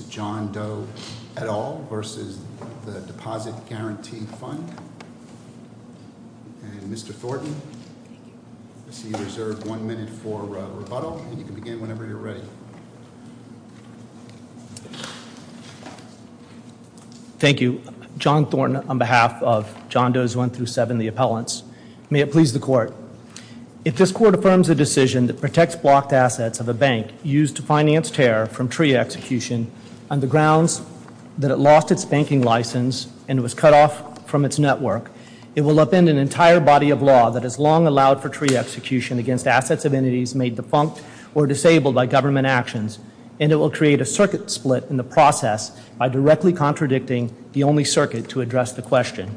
Mr. John Thornton on behalf of John Doe's 1-7, the appellants. May it please the court. If this court affirms a decision that protects blocked assets of a bank used to finance terror from TRIA execution on the grounds that it lost its banking license and was cut off from its network, it will upend an entire body of law that has long allowed for TRIA execution against assets of entities made defunct or disabled by government actions, and it will create a circuit split in the process by directly contradicting the only circuit to address the question.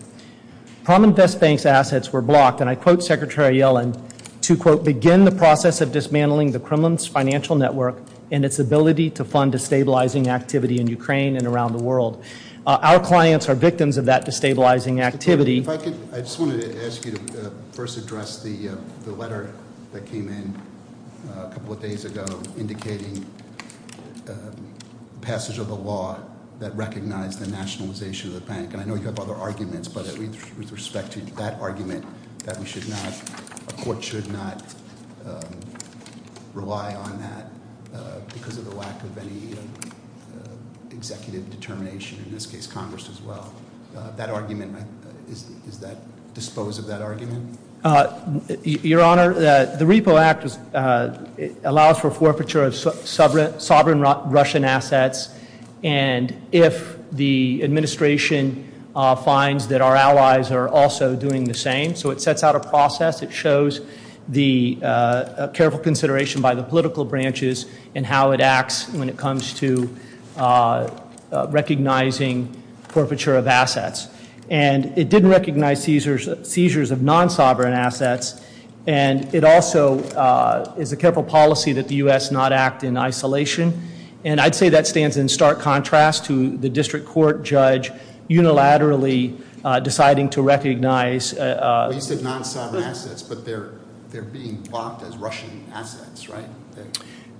Prominvest Bank's assets were blocked, and I quote Secretary Yellen, to quote, begin the process of dismantling the Kremlin's financial network and its ability to fund destabilizing activity in Ukraine and around the world. Our clients are victims of that destabilizing activity. I just wanted to ask you to first address the letter that came in a couple of days ago indicating passage of the law that recognized the nationalization of the bank, and I know you have other arguments, but with respect to that argument that a court should not rely on that because of the lack of any executive determination, in this case Congress as well, that argument, is that, dispose of that argument? Your Honor, the Repo Act allows for forfeiture of sovereign Russian assets, and if the administration finds that our allies are also doing the same, so it sets out a process, it shows the careful consideration by the political branches in how it acts when it comes to recognizing forfeiture of assets, and it didn't recognize seizures of non-sovereign assets, and it also is a careful policy that the U.S. not act in isolation, and I'd say that stands in stark contrast to the district court judge unilaterally deciding to recognize You said non-sovereign assets, but they're being blocked as Russian assets, right?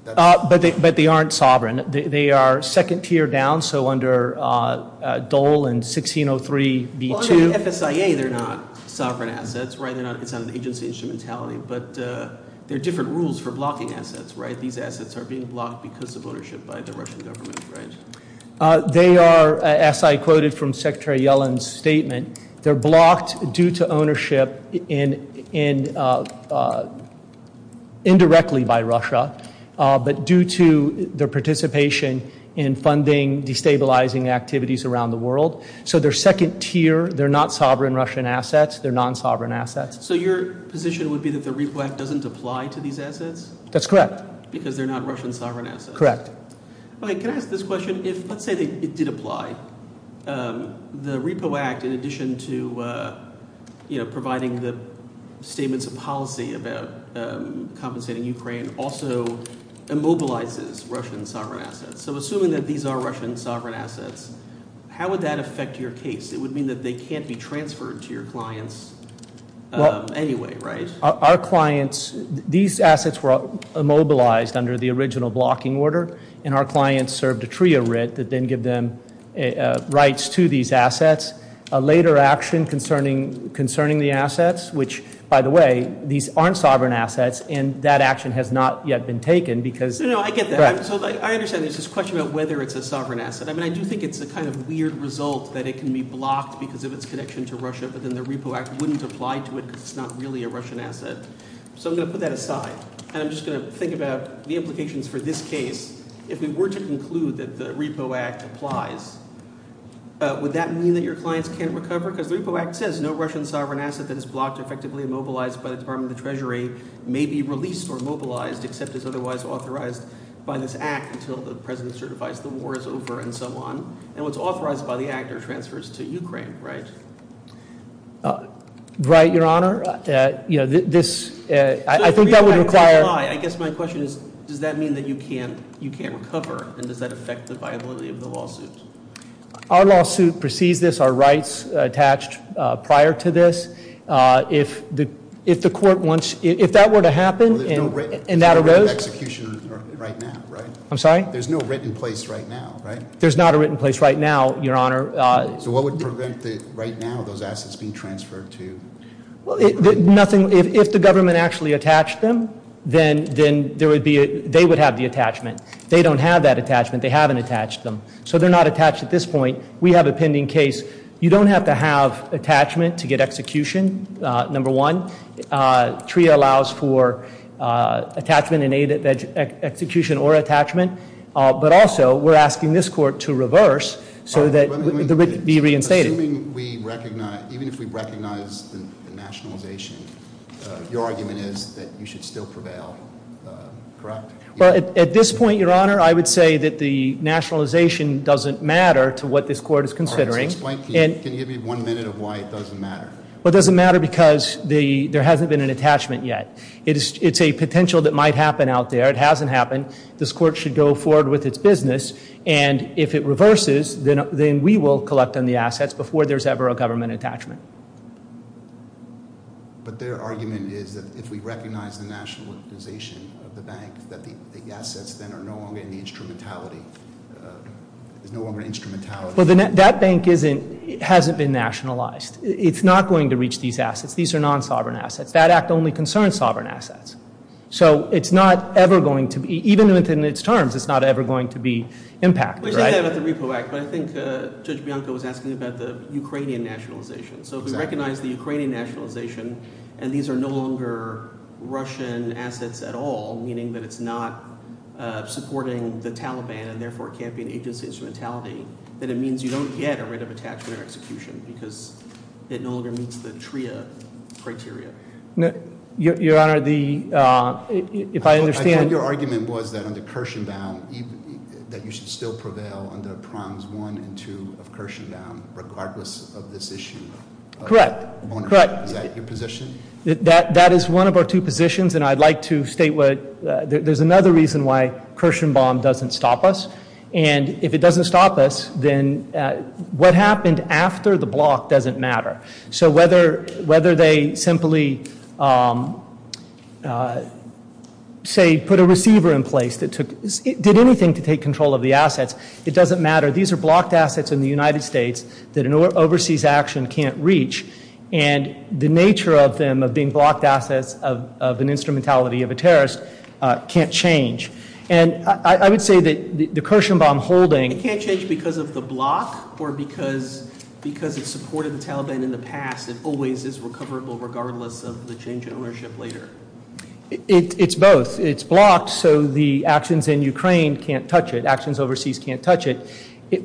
But they aren't sovereign, they are second tier down, so under Dole and 1603 B2 Well under FSIA they're not sovereign assets, right, it's not an agency instrumentality, but there are different rules for blocking assets, right, these assets are being blocked because of ownership by the Russian government, right? They are, as I quoted from Secretary Yellen's statement, they're blocked due to ownership indirectly by Russia, but due to their participation in funding destabilizing activities around the world, so they're second tier, they're not sovereign Russian assets, they're non-sovereign assets. So your position would be that the Repo Act doesn't apply to these assets? That's correct. Because they're not Russian sovereign assets? Correct. Can I ask this question, if let's say it did apply, the Repo Act in addition to providing the statements of policy about compensating Ukraine also immobilizes Russian sovereign assets, so assuming that these are Russian sovereign assets how would that affect your case? It would mean that they can't be transferred to your clients anyway, right? Our clients, these assets were immobilized under the original blocking order, and our clients served a TRIA writ that then give them rights to these assets. A later action concerning the assets, which by the way, these aren't sovereign assets, and that action has not yet been taken because... No, no, I get that. So I understand there's this question about whether it's a sovereign asset. I mean, I do think it's a kind of weird result that it can be blocked because of its connection to Russia, but then the Repo Act wouldn't apply to it because it's not really a Russian asset. So I'm going to put that aside, and I'm just going to think about the implications for this case. If we were to conclude that the Repo Act applies, would that mean that your clients can't recover? Because the Repo Act says no Russian sovereign asset that is blocked or effectively immobilized by the Department of the Treasury may be released or immobilized, except it's otherwise authorized by this Act until the President certifies the war is over and so on. And what's authorized by the Act are transfers to Ukraine, right? Right, Your Honor. I think that would require... I guess my question is, does that mean that you can't recover? And does that affect the viability of the lawsuit? Our lawsuit precedes this. Our rights attached prior to this. If the court wants... If that were to happen and that arose... There's no written execution right now, right? I'm sorry? There's no written place right now, right? There's not a written place right now, Your Honor. So what would prevent right now those assets being transferred to... If the government actually attached them, then they would have the attachment. They don't have that attachment to get execution, number one. TRIA allows for attachment and execution or attachment. But also, we're asking this court to reverse so that they would be reinstated. Assuming we recognize... Even if we recognize the nationalization, your argument is that you should still prevail, correct? Well, at this point, Your Honor, I would say that the nationalization doesn't matter to what this court is considering. Can you give me one minute of why it doesn't matter? It doesn't matter because there hasn't been an attachment yet. It's a potential that might happen out there. It hasn't happened. This court should go forward with its business. And if it reverses, then we will collect on the assets before there's ever a government attachment. But their argument is that if we recognize the nationalization of the bank, that the assets then are no longer in the instrumentality. There's no longer an instrumentality. Well, that bank hasn't been nationalized. It's not going to reach these assets. These are non-sovereign assets. That act only concerns sovereign assets. So, it's not ever going to be, even within its terms, it's not ever going to be impacted, right? Well, you said that about the Repo Act, but I think Judge Bianco was asking about the Ukrainian nationalization. So, if we recognize the Ukrainian nationalization, and these are no longer Russian assets at all, meaning that it's not supporting the Taliban, and therefore it can't be an agency instrumentality, then it means you don't get a right of attachment or execution because it no longer meets the TRIA criteria. Your Honor, the I think your argument was that under Kirshenbaum, that you should still prevail under Proms 1 and 2 of Kirshenbaum, regardless of this issue. Correct. Is that your position? That is one of our two positions, and I'd like to state that there's another reason why Kirshenbaum doesn't stop us. And if it doesn't stop us, then what happened after the block doesn't matter. So, whether they simply say, put a receiver in place that did anything to take control of the assets, it doesn't matter. These are blocked assets in the United States that an overseas action can't reach, and the nature of them, of being blocked assets of an instrumentality of a terrorist, can't change. And I would say that the Kirshenbaum holding... It can't change because of the block, or because it supported the Taliban in the past, it always is recoverable regardless of the change in ownership later? It's both. It's blocked, so the actions in Ukraine can't touch it. Actions overseas can't touch it.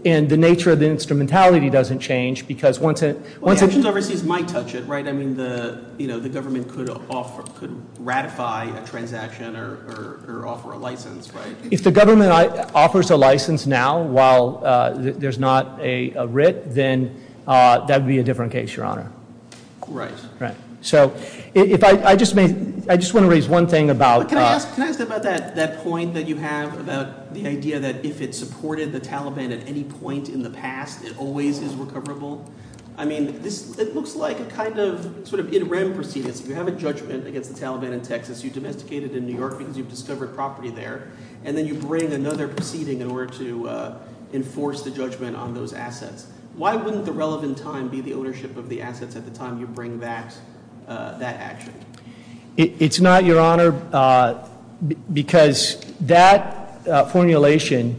And the nature of the instrumentality doesn't change, because once it... Well, the actions overseas might touch it, right? I mean, the If the government offers a license now, while there's not a writ, then that would be a different case, Your Honor. Right. So, if I just may... I just want to raise one thing about... Can I ask about that point that you have about the idea that if it supported the Taliban at any point in the past, it always is recoverable? I mean, it looks like a kind of sort of If you have a judgment against the Taliban in Texas, you domesticate it in New York because you've discovered property there, and then you bring another proceeding in order to enforce the judgment on those assets. Why wouldn't the relevant time be the ownership of the assets at the time you bring back that action? It's not, Your Honor, because that formulation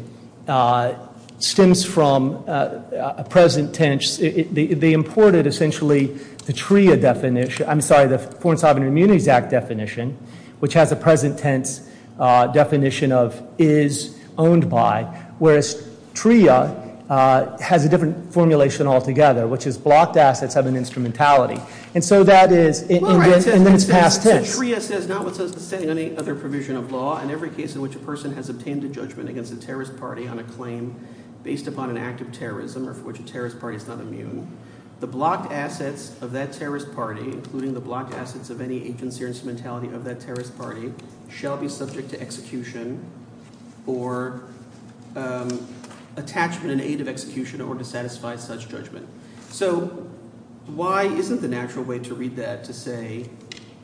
stems from a present tense. They imported, essentially, the TRIA definition. I'm sorry, the Foreign Sovereign Immunities Act definition, which has a present tense definition of is owned by, whereas TRIA has a different formulation altogether, which is blocked assets have an instrumentality. And so that is... And then it's past tense. So TRIA says, notwithstanding any other provision of law, in every case in which a person has obtained a judgment against a terrorist party on a claim based upon an act of terrorism or for which a terrorist party is not immune, the blocked assets of that terrorist party, including the blocked assets of any agency or instrumentality of that terrorist party, shall be subject to execution or attachment in aid of execution in order to satisfy such judgment. So why isn't the natural way to read that to say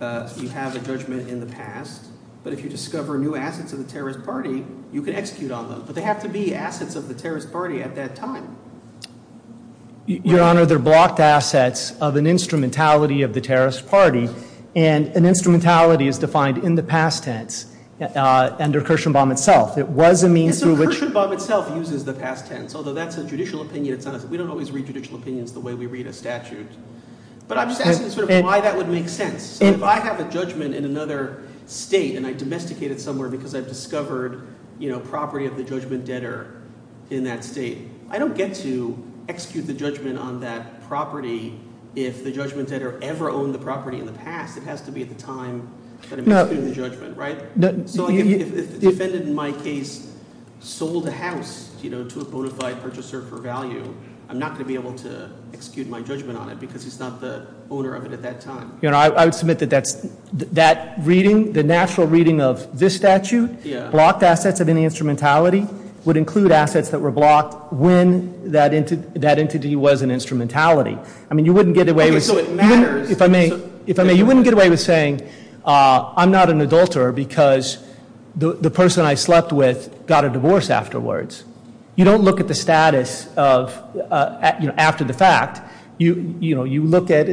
you have a judgment in the past, but if you discover new assets of the terrorist party, you can execute on them. But they have to be assets of the terrorist party at that time. Your Honor, they're blocked assets of an instrumentality of the terrorist party. And an instrumentality is defined in the past tense under Kirschenbaum itself. It was a means through which... Although that's a judicial opinion. We don't always read judicial opinions the way we read a statute. But I'm just asking sort of why that would make sense. If I have a judgment in another state and I domesticate it somewhere because I've discovered property of the judgment debtor in that state, I don't get to execute the judgment on that property if the judgment debtor ever owned the property in the past. It has to be at the time that I'm executing the judgment, right? So if the defendant in my case sold a house to a bona fide purchaser for value, I'm not going to be able to execute my judgment on it because he's not the owner of it at that time. Your Honor, I would submit that that reading, the natural reading of this statute, blocked assets of any instrumentality would include assets that were blocked when that entity was an instrumentality. You wouldn't get away with saying I'm not an adulterer because the person I slept with got a divorce afterwards. You don't look at the status of after the fact. You look at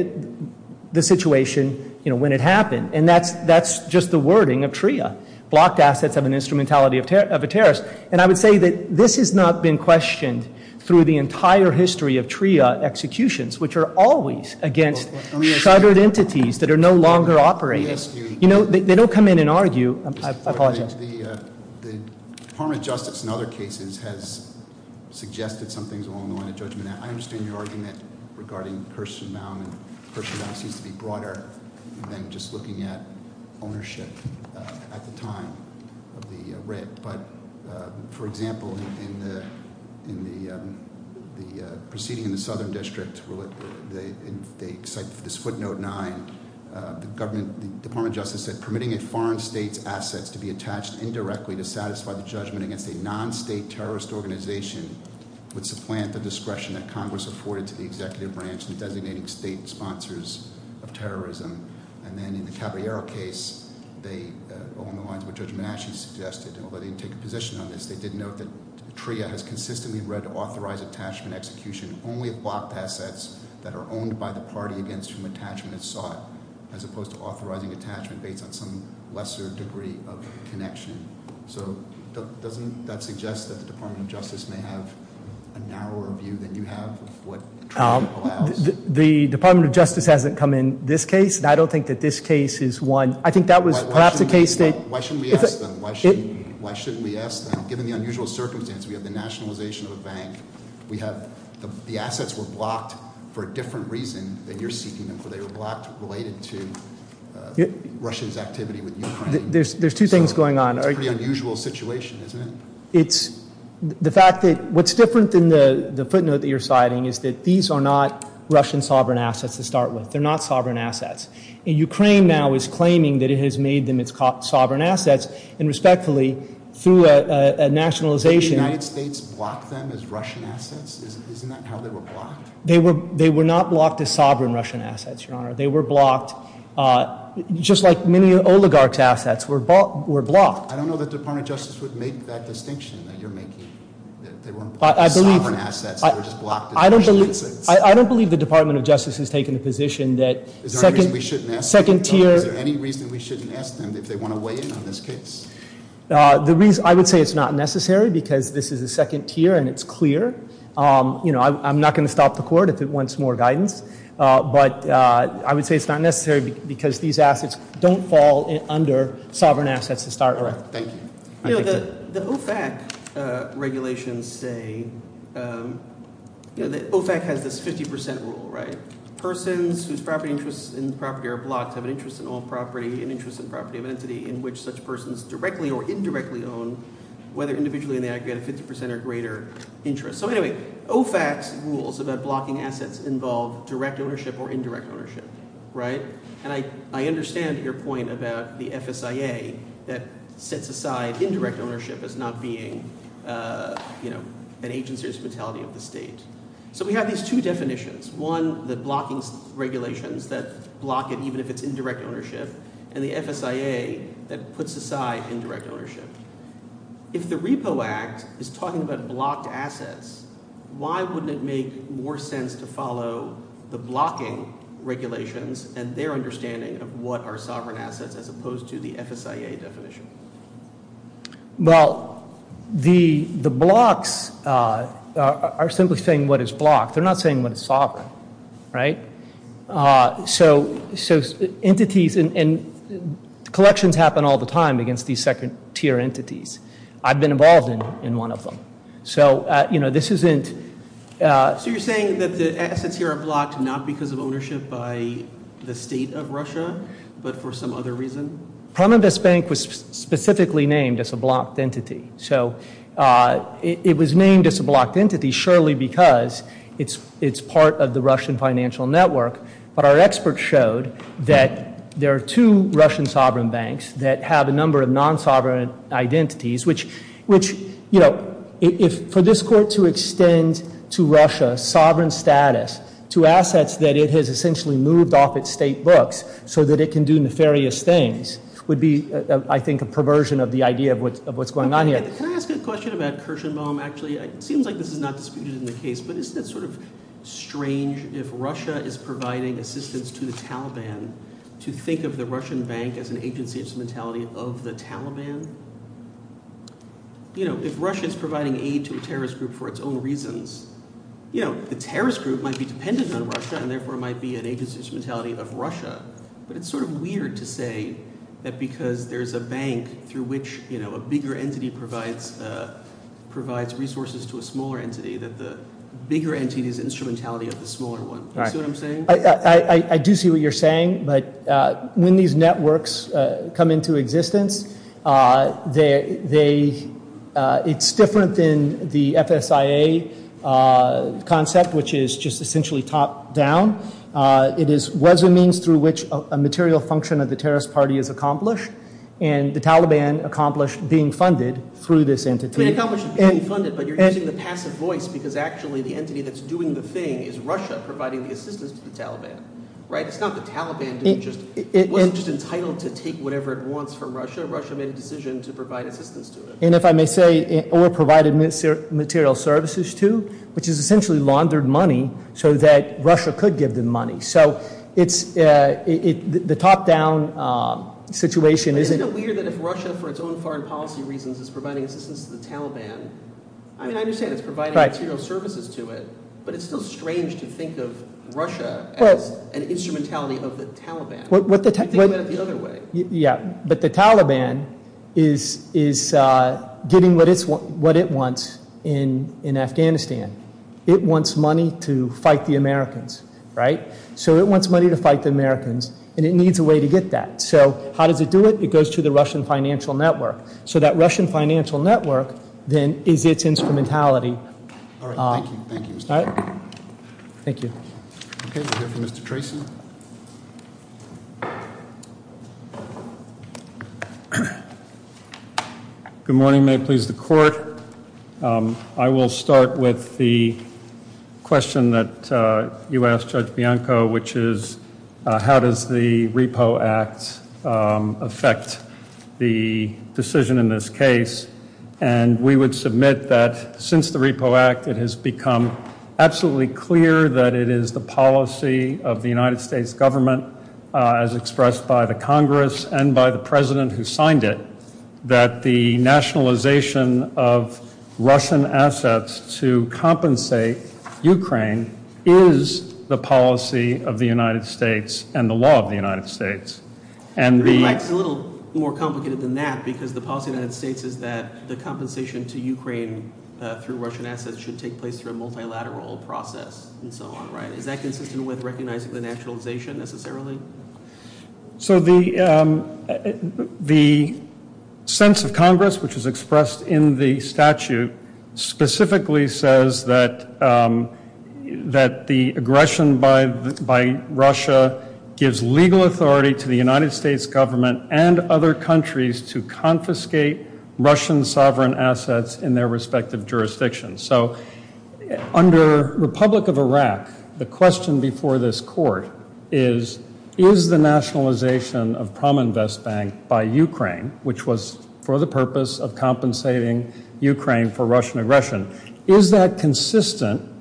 the situation when it I would say that this has not been questioned through the entire history of TRIA executions, which are always against shuttered entities that are no longer operating. They don't come in and argue. I apologize. The Department of Justice in other cases has suggested some things along the line of judgment. I understand your argument regarding person bound and person bound seems to be broader than just looking at ownership at the time of the writ. For example, in the proceeding in the Southern District where they cite this footnote 9, the Department of Justice said permitting a foreign state's assets to be attached indirectly to satisfy the judgment against a non-state terrorist organization would supplant the discretion that Congress afforded to the executive branch and designating state sponsors of terrorism. And then in the Caballero case, along the lines of what Judge Manasci suggested, although they didn't take a position on this, they did note that TRIA has consistently read authorized attachment execution only of blocked assets that are owned by the party against whom attachment is sought, as opposed to authorizing attachment based on some narrower view than you have of what TRIA allows. The Department of Justice hasn't come in this case, and I don't think that this case is one. I think that was perhaps a case that- Why shouldn't we ask them? Given the unusual circumstance, we have the nationalization of a bank. The assets were blocked for a different reason than you're seeking them for. They were blocked related to Russia's activity with Ukraine. There's two things going on. It's a pretty unusual situation, isn't it? What's different than the footnote that you're citing is that these are not Russian sovereign assets to start with. They're not sovereign assets. Ukraine now is claiming that it has made them its sovereign assets, and respectfully, through a nationalization- Did the United States block them as Russian assets? Isn't that how they were blocked? They were not blocked as sovereign Russian assets, Your Honor. They were blocked just like many oligarchs' assets were blocked. I don't know that the Department of Justice would make that distinction that you're making. They weren't sovereign assets. They were just blocked as Russian assets. I don't believe the Department of Justice has taken the position that- Is there any reason we shouldn't ask them? Is there any reason we shouldn't ask them if they want to weigh in on this case? I would say it's not necessary because this is a second tier and it's clear. I'm not going to stop the court if it wants more guidance, but I would say it's not necessary because these assets don't fall under sovereign assets to start with. The OFAC regulations say- OFAC has this 50% rule, right? They have an interest in all property, an interest in property of entity in which such persons directly or indirectly own, whether individually or in the aggregate, a 50% or greater interest. So anyway, OFAC's rules about blocking assets involve direct ownership or indirect ownership, right? And I understand your point about the FSIA that sets aside indirect ownership as not being an agency or a utility of the state. So we have these two definitions. One, the blocking regulations that block it even if it's indirect ownership, and the FSIA that puts aside indirect ownership. If the Repo Act is talking about blocked assets, why wouldn't it make more sense to follow the blocking regulations and their understanding of what are sovereign assets as opposed to the FSIA definition? Well, the blocks are simply saying what is blocked. They're not saying what is sovereign, right? Entities and collections happen all the time against these second tier entities. I've been involved in one of them. So this isn't- So you're saying that the assets here are blocked not because of ownership by the state of Russia, but for some other reason? Prime Invest Bank was specifically named as a blocked entity. So it was named as a blocked entity surely because it's part of the Russian financial network. But our experts showed that there are two Russian sovereign banks that have a number of non-sovereign identities, which for this court to extend to Russia sovereign status to assets that it has essentially moved off its state books so that it can do nefarious things would be I think a perversion of the idea of what's going on here. Can I ask a question about Kirshenbaum actually? It seems like this is not disputed in the case, but isn't it sort of strange if Russia is providing assistance to the Taliban to think of the Russian bank as an agency instrumentality of the Taliban? If Russia is providing aid to a terrorist group for its own reasons, the terrorist group might be dependent on Russia and therefore might be an agency instrumentality of Russia. But it's sort of weird to say that because there's a bank through which a bigger entity provides resources to a smaller entity that the bigger entity is instrumentality of the smaller one. Do you see what I'm saying? I do see what you're saying, but when these networks come into existence it's different than the FSIA concept, which is just essentially top down. It is a means through which a material function of the terrorist party is accomplished and the Taliban accomplished being funded through this entity. And if I may say, or provided material services to, which is essentially laundered money so that Russia could give them money. But isn't it weird that if Russia for its own foreign policy reasons is providing assistance to the Taliban, I understand it's providing material services to it, but it's still strange to think of Russia as an instrumentality of the Taliban. Think about it the other way. But the Taliban is getting what it wants in Afghanistan. It wants money to fight the Americans. And it needs a way to get that. So how does it do it? It goes to the Russian financial network. So that Russian financial network then is its instrumentality. Good morning. May it please the Court. I will start with the question that you asked Judge Bianco, which is how does the Repo Act affect the decision in this case? And we would submit that since the Repo Act it has become absolutely clear that it is the policy of the United States government as expressed by the Congress and by the President who signed it, that the nationalization of Russian assets to compensate Ukraine is the policy of the United States and the law of the United States. It's a little more complicated than that because the policy of the United States is that the compensation to Ukraine through Russian assets should take place through a multilateral process and so on, right? Is that consistent with recognizing the nationalization necessarily? So the sense of Congress, which is expressed in the statute, specifically says that the aggression by Russia gives legal authority to the United States government and other countries to confiscate Russian sovereign assets in their respective jurisdictions. So under Republic of Iraq, the question before this Court is, is the nationalization of Prominvest Bank by Ukraine, which was for the purpose of compensating Ukraine for Russian aggression, is that consistent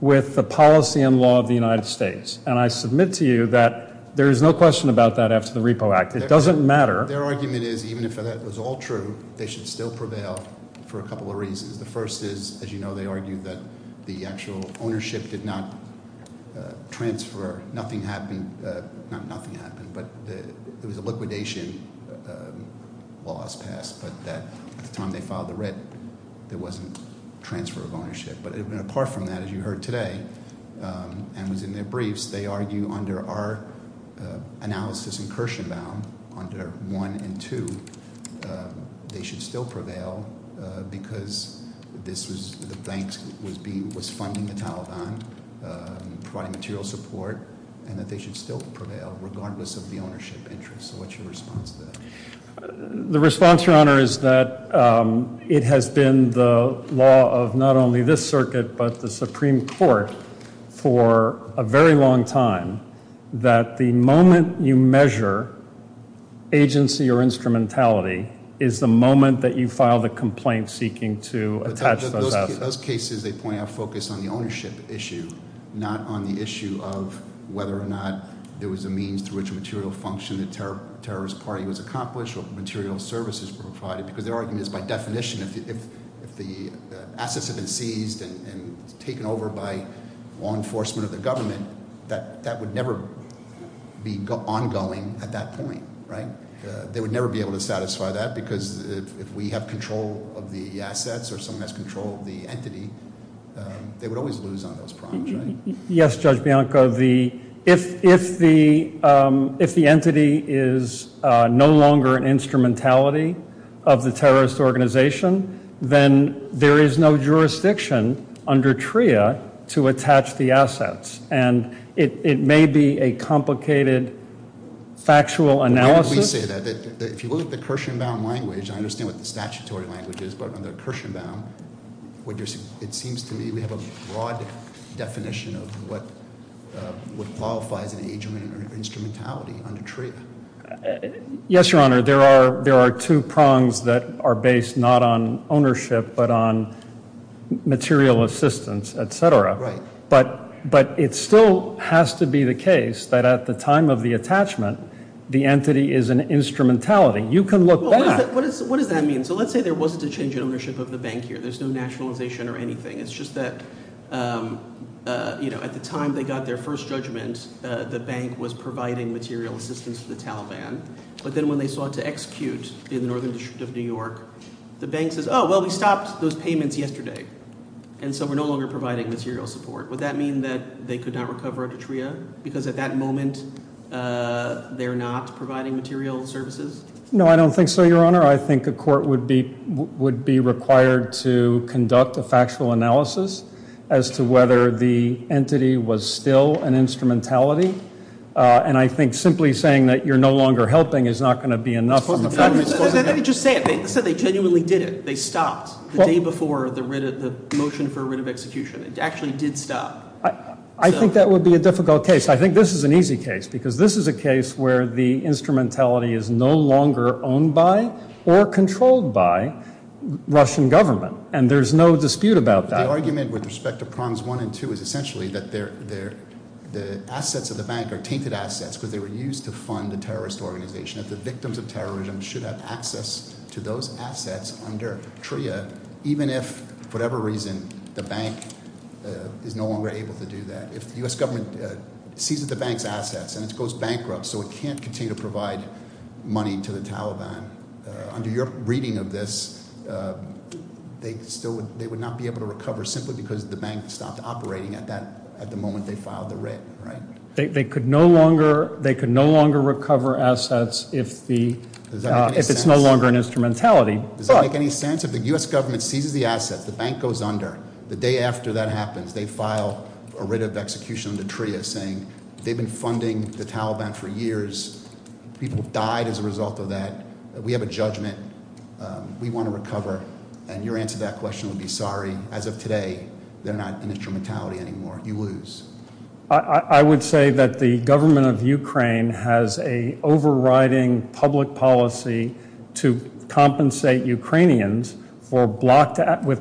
with the policy and law of the United States? And I submit to you that there is no question about that after the Repo Act. It doesn't matter. Their argument is even if that was all true, they should still prevail for a couple of reasons. The first is, as you know, they argue that the actual ownership did not transfer. Nothing happened. Not nothing happened, but it was a liquidation. Laws passed, but at the time they filed the rep, there wasn't transfer of ownership. But apart from that, as you heard today and was in their briefs, they argue under our analysis in Kirshenbaum, under 1 and 2, they should still prevail because the bank was funding the Taliban, providing material support, and that they should still prevail regardless of the ownership interest. So what's your response to that? The response, Your Honor, is that it has been the law of not only this circuit but the Supreme Court for a very long time that the moment you measure agency or instrumentality is the moment that you file the complaint seeking to attach those assets. Those cases, they point out, focus on the ownership issue, not on the issue of whether or not there was a means through which material function of the terrorist party was accomplished or material services were provided. Because their argument is by definition if the assets have been seized and taken over by law enforcement or the government, that would never be ongoing at that point. They would never be able to satisfy that because if we have control of the assets or someone has control of the entity, they would always lose on those problems. Yes, Judge Bianco, if the entity is no longer an instrumentality of the terrorist organization, then there is no jurisdiction under TRIA to attach the assets. And it may be a complicated factual analysis. Why did we say that? If you look at the Kirshenbaum language, I understand what the statutory language is, but what qualifies an agent or instrumentality under TRIA? Yes, Your Honor. There are two prongs that are based not on ownership but on material assistance, etc. But it still has to be the case that at the time of the attachment, the entity is an instrumentality. You can look back. What does that mean? So let's say there wasn't a change in ownership of the bank here. There's no nationalization or anything. It's just that at the time they got their first judgment, the bank was providing material assistance to the Taliban. But then when they sought to execute in the Northern District of New York, the bank says, oh, well, we stopped those payments yesterday. And so we're no longer providing material support. Would that mean that they could not recover under TRIA? Because at that moment they're not providing material services? No, I don't think so, Your Honor. I think a court would be required to conduct a factual analysis as to whether the entity was still an instrumentality. And I think simply saying that you're no longer helping is not going to be enough. Let me just say it. They said they genuinely did it. They stopped the day before the motion for execution. It actually did stop. I think that would be a difficult case. I think this is an easy case because this is a case where the instrumentality is no longer owned by or controlled by Russian government. And there's no dispute about that. The argument with respect to Proms 1 and 2 is essentially that the assets of the bank are tainted assets because they were used to fund the terrorist organization. The victims of terrorism should have access to those assets under TRIA even if, for whatever reason, the bank is no longer able to do that. If the U.S. government seizes the bank's assets and it goes bankrupt so it can't continue to provide money to the Taliban, under your reading of this, they would not be able to recover simply because the bank stopped operating at the moment they filed the writ. They could no longer recover assets if it's no longer an instrumentality. Does that make any sense? If the U.S. government seizes the assets, the bank goes under, the day after that happens, they file a writ of execution under TRIA saying they've been funding the Taliban for years, people died as a result of that, we have a judgment, we want to recover. Your answer to that question would be sorry. As of today, they're not an instrumentality anymore. You lose. I would say that the government of Ukraine has an overriding public policy to compensate Ukrainians with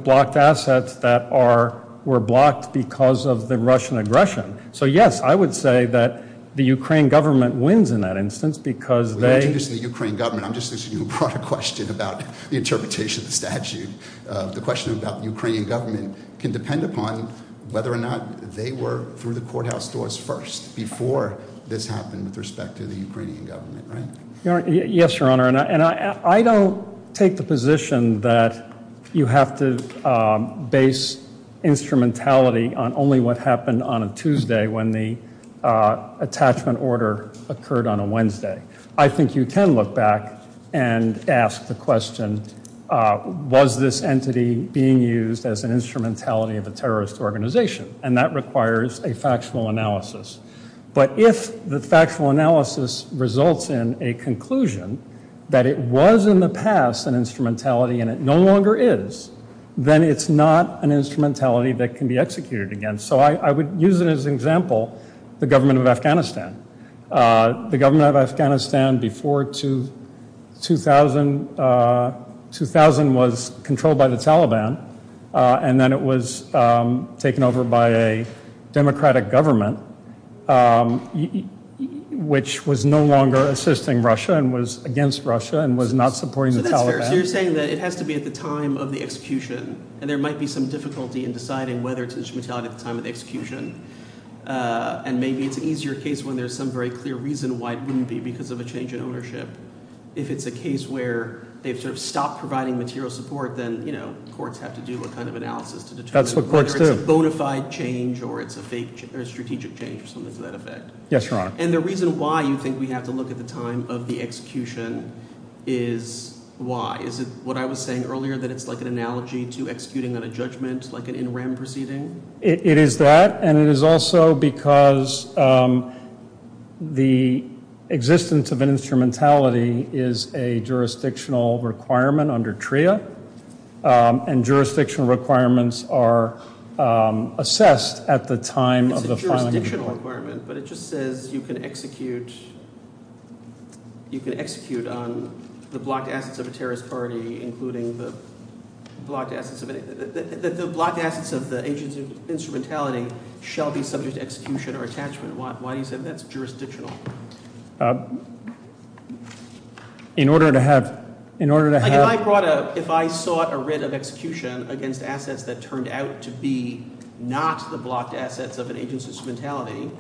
blocked assets that were blocked because of the Russian aggression. So yes, I would say that the Ukraine government wins in that instance. I'm just asking you a broader question about the interpretation of the statute. The question about the Ukrainian government can depend upon whether or not they were through the courthouse doors first before this happened with respect to the Ukrainian government, right? Yes, Your Honor. I don't take the position that you have to base instrumentality on only what happened on a Tuesday when the attachment order occurred on a Wednesday. I think you can look back and ask the question, was this entity being used as an instrumentality of a terrorist organization? And that requires a factual analysis. But if the factual analysis results in a conclusion that it was in the past an instrumentality and it no longer is, then it's not an instrumentality that can be executed again. So I would use it as an example, the government of Afghanistan. The government of Afghanistan before 2000 was controlled by the Taliban, and then it was taken over by a democratic government, which was no longer assisting Russia and was against Russia and was not supporting the Taliban. So that's fair. So you're saying that it has to be at the time of the execution, and there might be some difficulty in deciding whether it's instrumentality at the time of the execution. And maybe it's an easier case when there's some very clear reason why it wouldn't be because of a change in ownership. If it's a case where they've sort of stopped providing material support, then courts have to do a kind of analysis to determine whether it's a bona fide change or it's a fake or strategic change or something to that effect. Yes, Your Honor. And the reason why you think we have to look at the time of the execution is why? Is it what I was saying earlier that it's like an analogy to executing on a judgment, like an in rem proceeding? It is that, and it is also because the existence of an instrumentality is a jurisdictional requirement under TRIA and jurisdictional requirements are assessed at the time of the requirement. But it just says you can execute. You can execute on the blocked assets of a terrorist party, including the blocked assets of the agents of instrumentality, shall be subject to execution or attachment. Why do you say that's jurisdictional? In order to have... If I sought a writ of execution against assets that turned out to be not the blocked assets of an agent's instrumentality,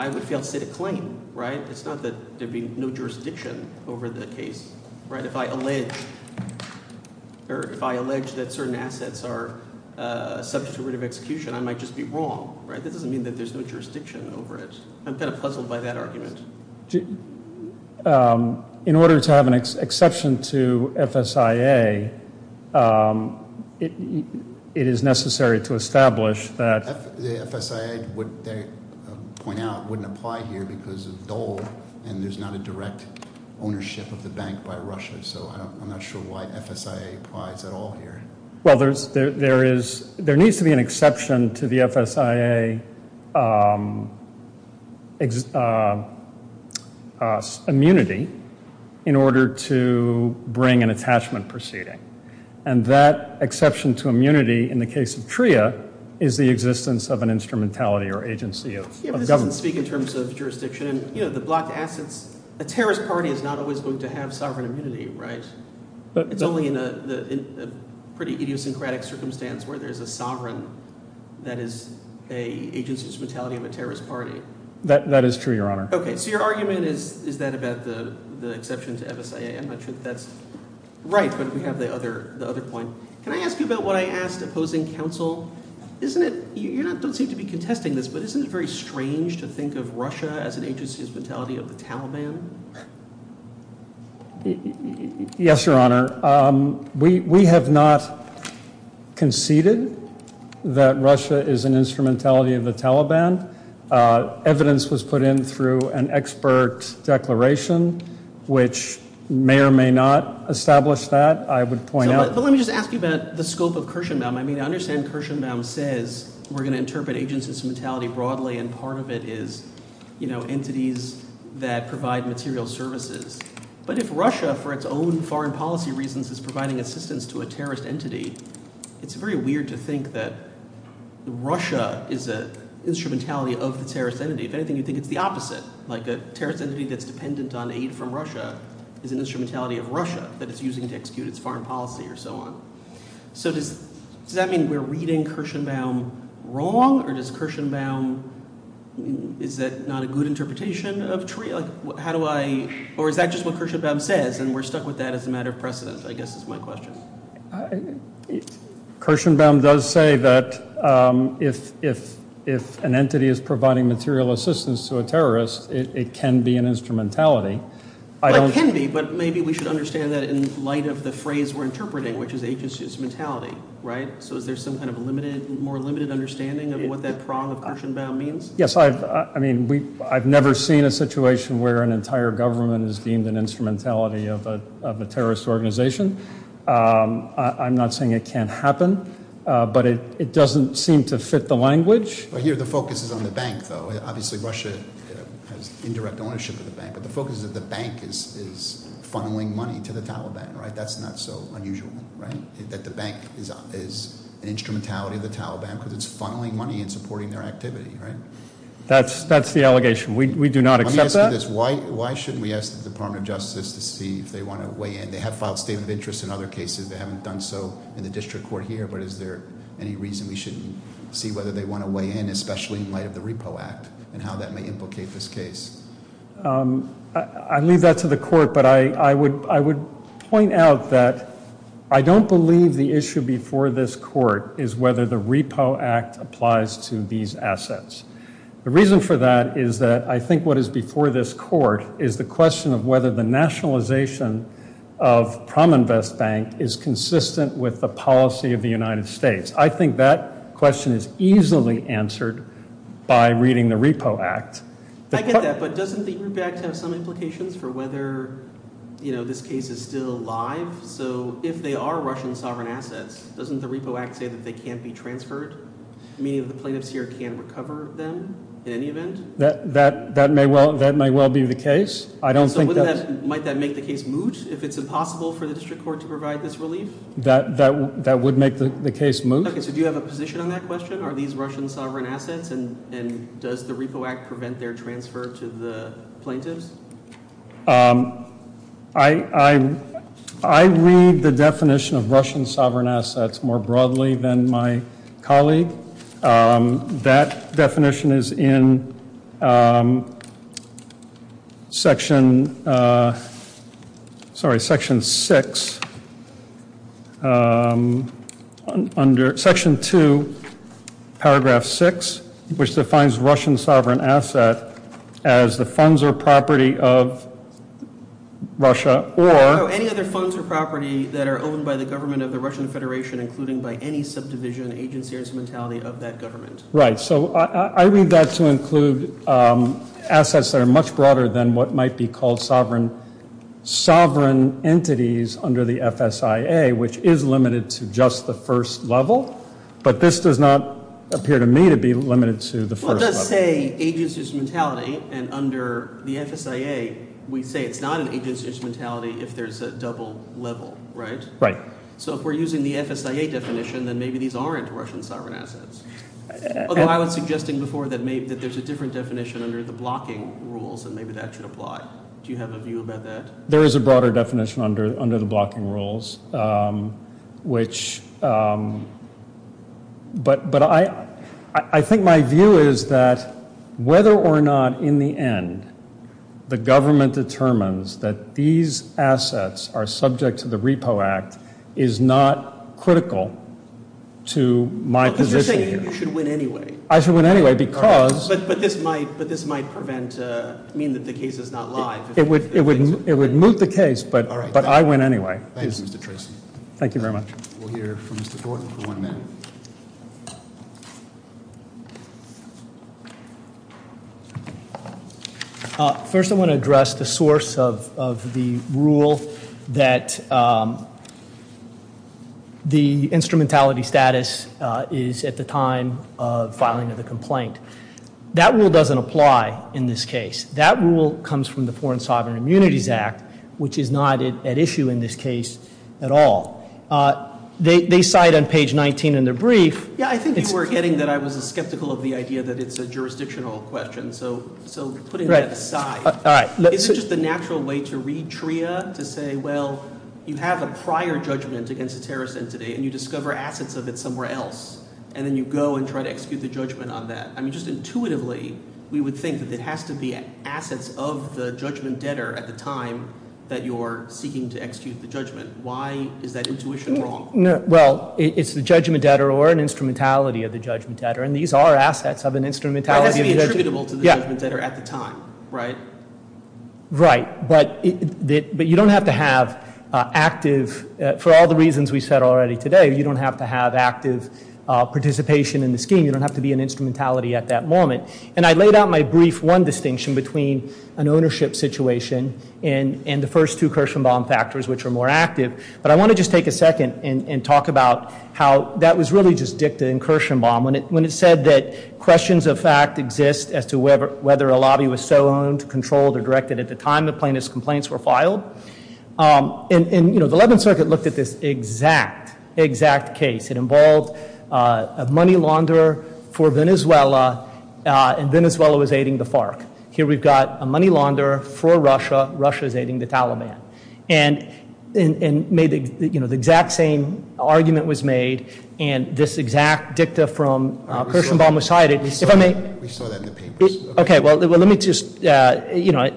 I would fail to state a claim, right? It's not that there'd be no jurisdiction over the case. Right? If I allege that certain assets are subject to writ of execution, I might just be wrong, right? That doesn't mean that there's no jurisdiction over it. I'm kind of puzzled by that argument. In order to have an exception to FSIA, it is necessary to establish that... The FSIA would point out wouldn't apply here because of Dole and there's not a direct ownership of the bank by Russia. So I'm not sure why FSIA applies at all here. Well, there needs to be an exception to the FSIA immunity in order to bring an attachment proceeding. And that exception to immunity in the case of TRIA is the existence of an instrumentality or agency of government. Yeah, but this doesn't speak in terms of jurisdiction. You know, the blocked assets... A terrorist party is not always going to have sovereign immunity, right? It's only in a pretty idiosyncratic circumstance where there's a sovereign that is an agent's instrumentality of a terrorist party. That is true, Your Honor. Okay, so your argument is that about the exception to FSIA. I'm not sure that's right, but we have the other point. Can I ask you about what I asked opposing counsel? You don't seem to be contesting this, but isn't it very strange to think of Russia as an agency's instrumentality of the Taliban? Yes, Your Honor. We have not conceded that Russia is an instrumentality of the Taliban. Evidence was put in through an expert declaration, which may or may not establish that. I would point out... But let me just ask you about the scope of Kirshenbaum. I mean, I understand Kirshenbaum says we're going to interpret agency's instrumentality broadly, and part of it is, you know, entities that provide material services. But if Russia, for its own foreign policy reasons, is providing assistance to a terrorist entity, it's very weird to think that Russia is an instrumentality of the terrorist entity. If anything, you think it's the opposite. Like a terrorist entity that's dependent on aid from Russia is an instrumentality of Russia that it's using to execute its foreign policy or so on. So does that mean we're reading Kirshenbaum wrong? Or is that not a good interpretation? Or is that just what Kirshenbaum says, and we're stuck with that as a matter of precedent, I guess is my question. Kirshenbaum does say that if an entity is providing material assistance to a terrorist, it can be an instrumentality. It can be, but maybe we should understand that in light of the phrase we're interpreting, which is agency's instrumentality, right? So is there some kind of more limited understanding of what that prong of Kirshenbaum means? Yes, I mean, I've never seen a situation where an entire government is deemed an instrumentality of a terrorist organization. I'm not saying it can't happen, but it doesn't seem to fit the language. But here the focus is on the bank, though. Obviously Russia has indirect ownership of the bank. But the focus is that the bank is funneling money to the Taliban, right? That's not so unusual, right? That the bank is an instrumentality of the Taliban because it's funneling money and supporting their activity, right? That's the allegation. We do not accept that. Let me ask you this. Why shouldn't we ask the Department of Justice to see if they want to weigh in? They have filed a statement of interest in other cases. They haven't done so in the district court here. But is there any reason we should see whether they want to weigh in, especially in light of the Repo Act and how that may implicate this case? I leave that to the court, but I would point out that I don't believe the issue before this court is whether the Repo Act applies to these assets. The reason for that is that I think what is before this court is the question of whether the nationalization of PromInvest Bank is consistent with the policy of the United States. I think that question is easily answered by reading the Repo Act. I get that, but doesn't the Repo Act have some implications for whether this case is still alive? So if they are Russian sovereign assets, doesn't the Repo Act say that they can't be transferred? Meaning that the plaintiffs here can't recover them in any event? That may well be the case. So might that make the case moot if it's impossible for the district court to provide this relief? That would make the case moot. So do you have a position on that question? Are these Russian sovereign assets? And does the Repo Act prevent their transfer to the plaintiffs? I read the definition of Russian sovereign assets more broadly than my colleague. That definition is in Section 6, Section 2, Paragraph 6, which defines Russian sovereign assets as the funds or property of Russia or Right. So I read that to include assets that are much broader than what might be called sovereign entities under the FSIA, which is limited to just the first level. But this does not appear to me to be limited to the first level. But I think my view is that whether or not, in the end, the government determines that these assets are subject to the Repo Act is not critical to my position here. But this might prevent, mean that the case is not live. It would moot the case, but I win anyway. First I want to address the source of the rule that the instrumentality status is at the time of filing of the complaint. That rule doesn't apply in this case. That rule comes from the Foreign Sovereign Immunities Act, which is not at issue in this case at all. They cite on page 19 in their brief. Yeah, I think you were getting that I was skeptical of the idea that it's a jurisdictional question. So putting that aside, is it just a natural way to read TRIA to say, well, you have a prior judgment against a terrorist entity, and you discover assets of it somewhere else. And then you go and try to execute the judgment on that. I mean, just intuitively, we would think that it has to be assets of the judgment debtor at the time that you're seeking to execute the judgment. Why is that intuition wrong? Well, it's the judgment debtor or an instrumentality of the judgment debtor, and these are assets of an instrumentality. Right, but you don't have to have active, for all the reasons we said already today, you don't have to have active participation in the scheme. You don't have to be an instrumentality at that moment. And I laid out my brief one distinction between an ownership situation and the first two Kirshenbaum factors, which are more active, but I want to just take a second and talk about how that was really just dicta in Kirshenbaum, when it said that questions of fact exist as to whether a lobby was so owned, controlled, or directed at the time the plaintiff's complaints were filed. And, you know, the Eleventh Circuit looked at this exact, exact case. It involved a money launderer for Venezuela, and Venezuela was aiding the FARC. Here we've got a money launderer for Russia, Russia's aiding the Taliban. And the exact same argument was made, and this exact dicta from Kirshenbaum was cited. We saw that in the papers. Okay, well, let me just, you know,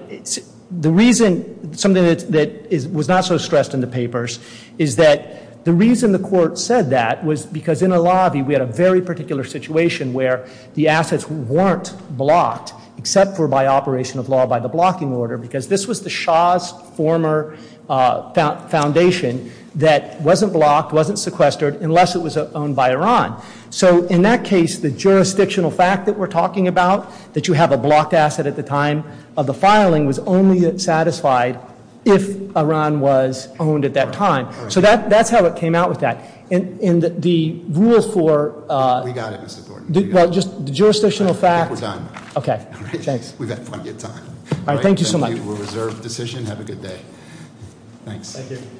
the reason, something that was not so stressed in the papers, is that the reason the court said that was because in a lobby we had a very particular situation where the assets weren't blocked, except for by operation of law, by the blocking order, because this was the Shah's former foundation that wasn't blocked, wasn't sequestered, unless it was owned by Iran. So in that case, the jurisdictional fact that we're talking about, that you have a blocked asset at the time of the filing, was only satisfied if Iran was owned at that time. So that's how it came out with that. And the rule for- We got it, Mr. Thornton. Well, just the jurisdictional fact- We're done. Okay, thanks. We've had plenty of time. All right, thank you so much. Thank you for a reserved decision. Have a good day. Thanks. Thank you.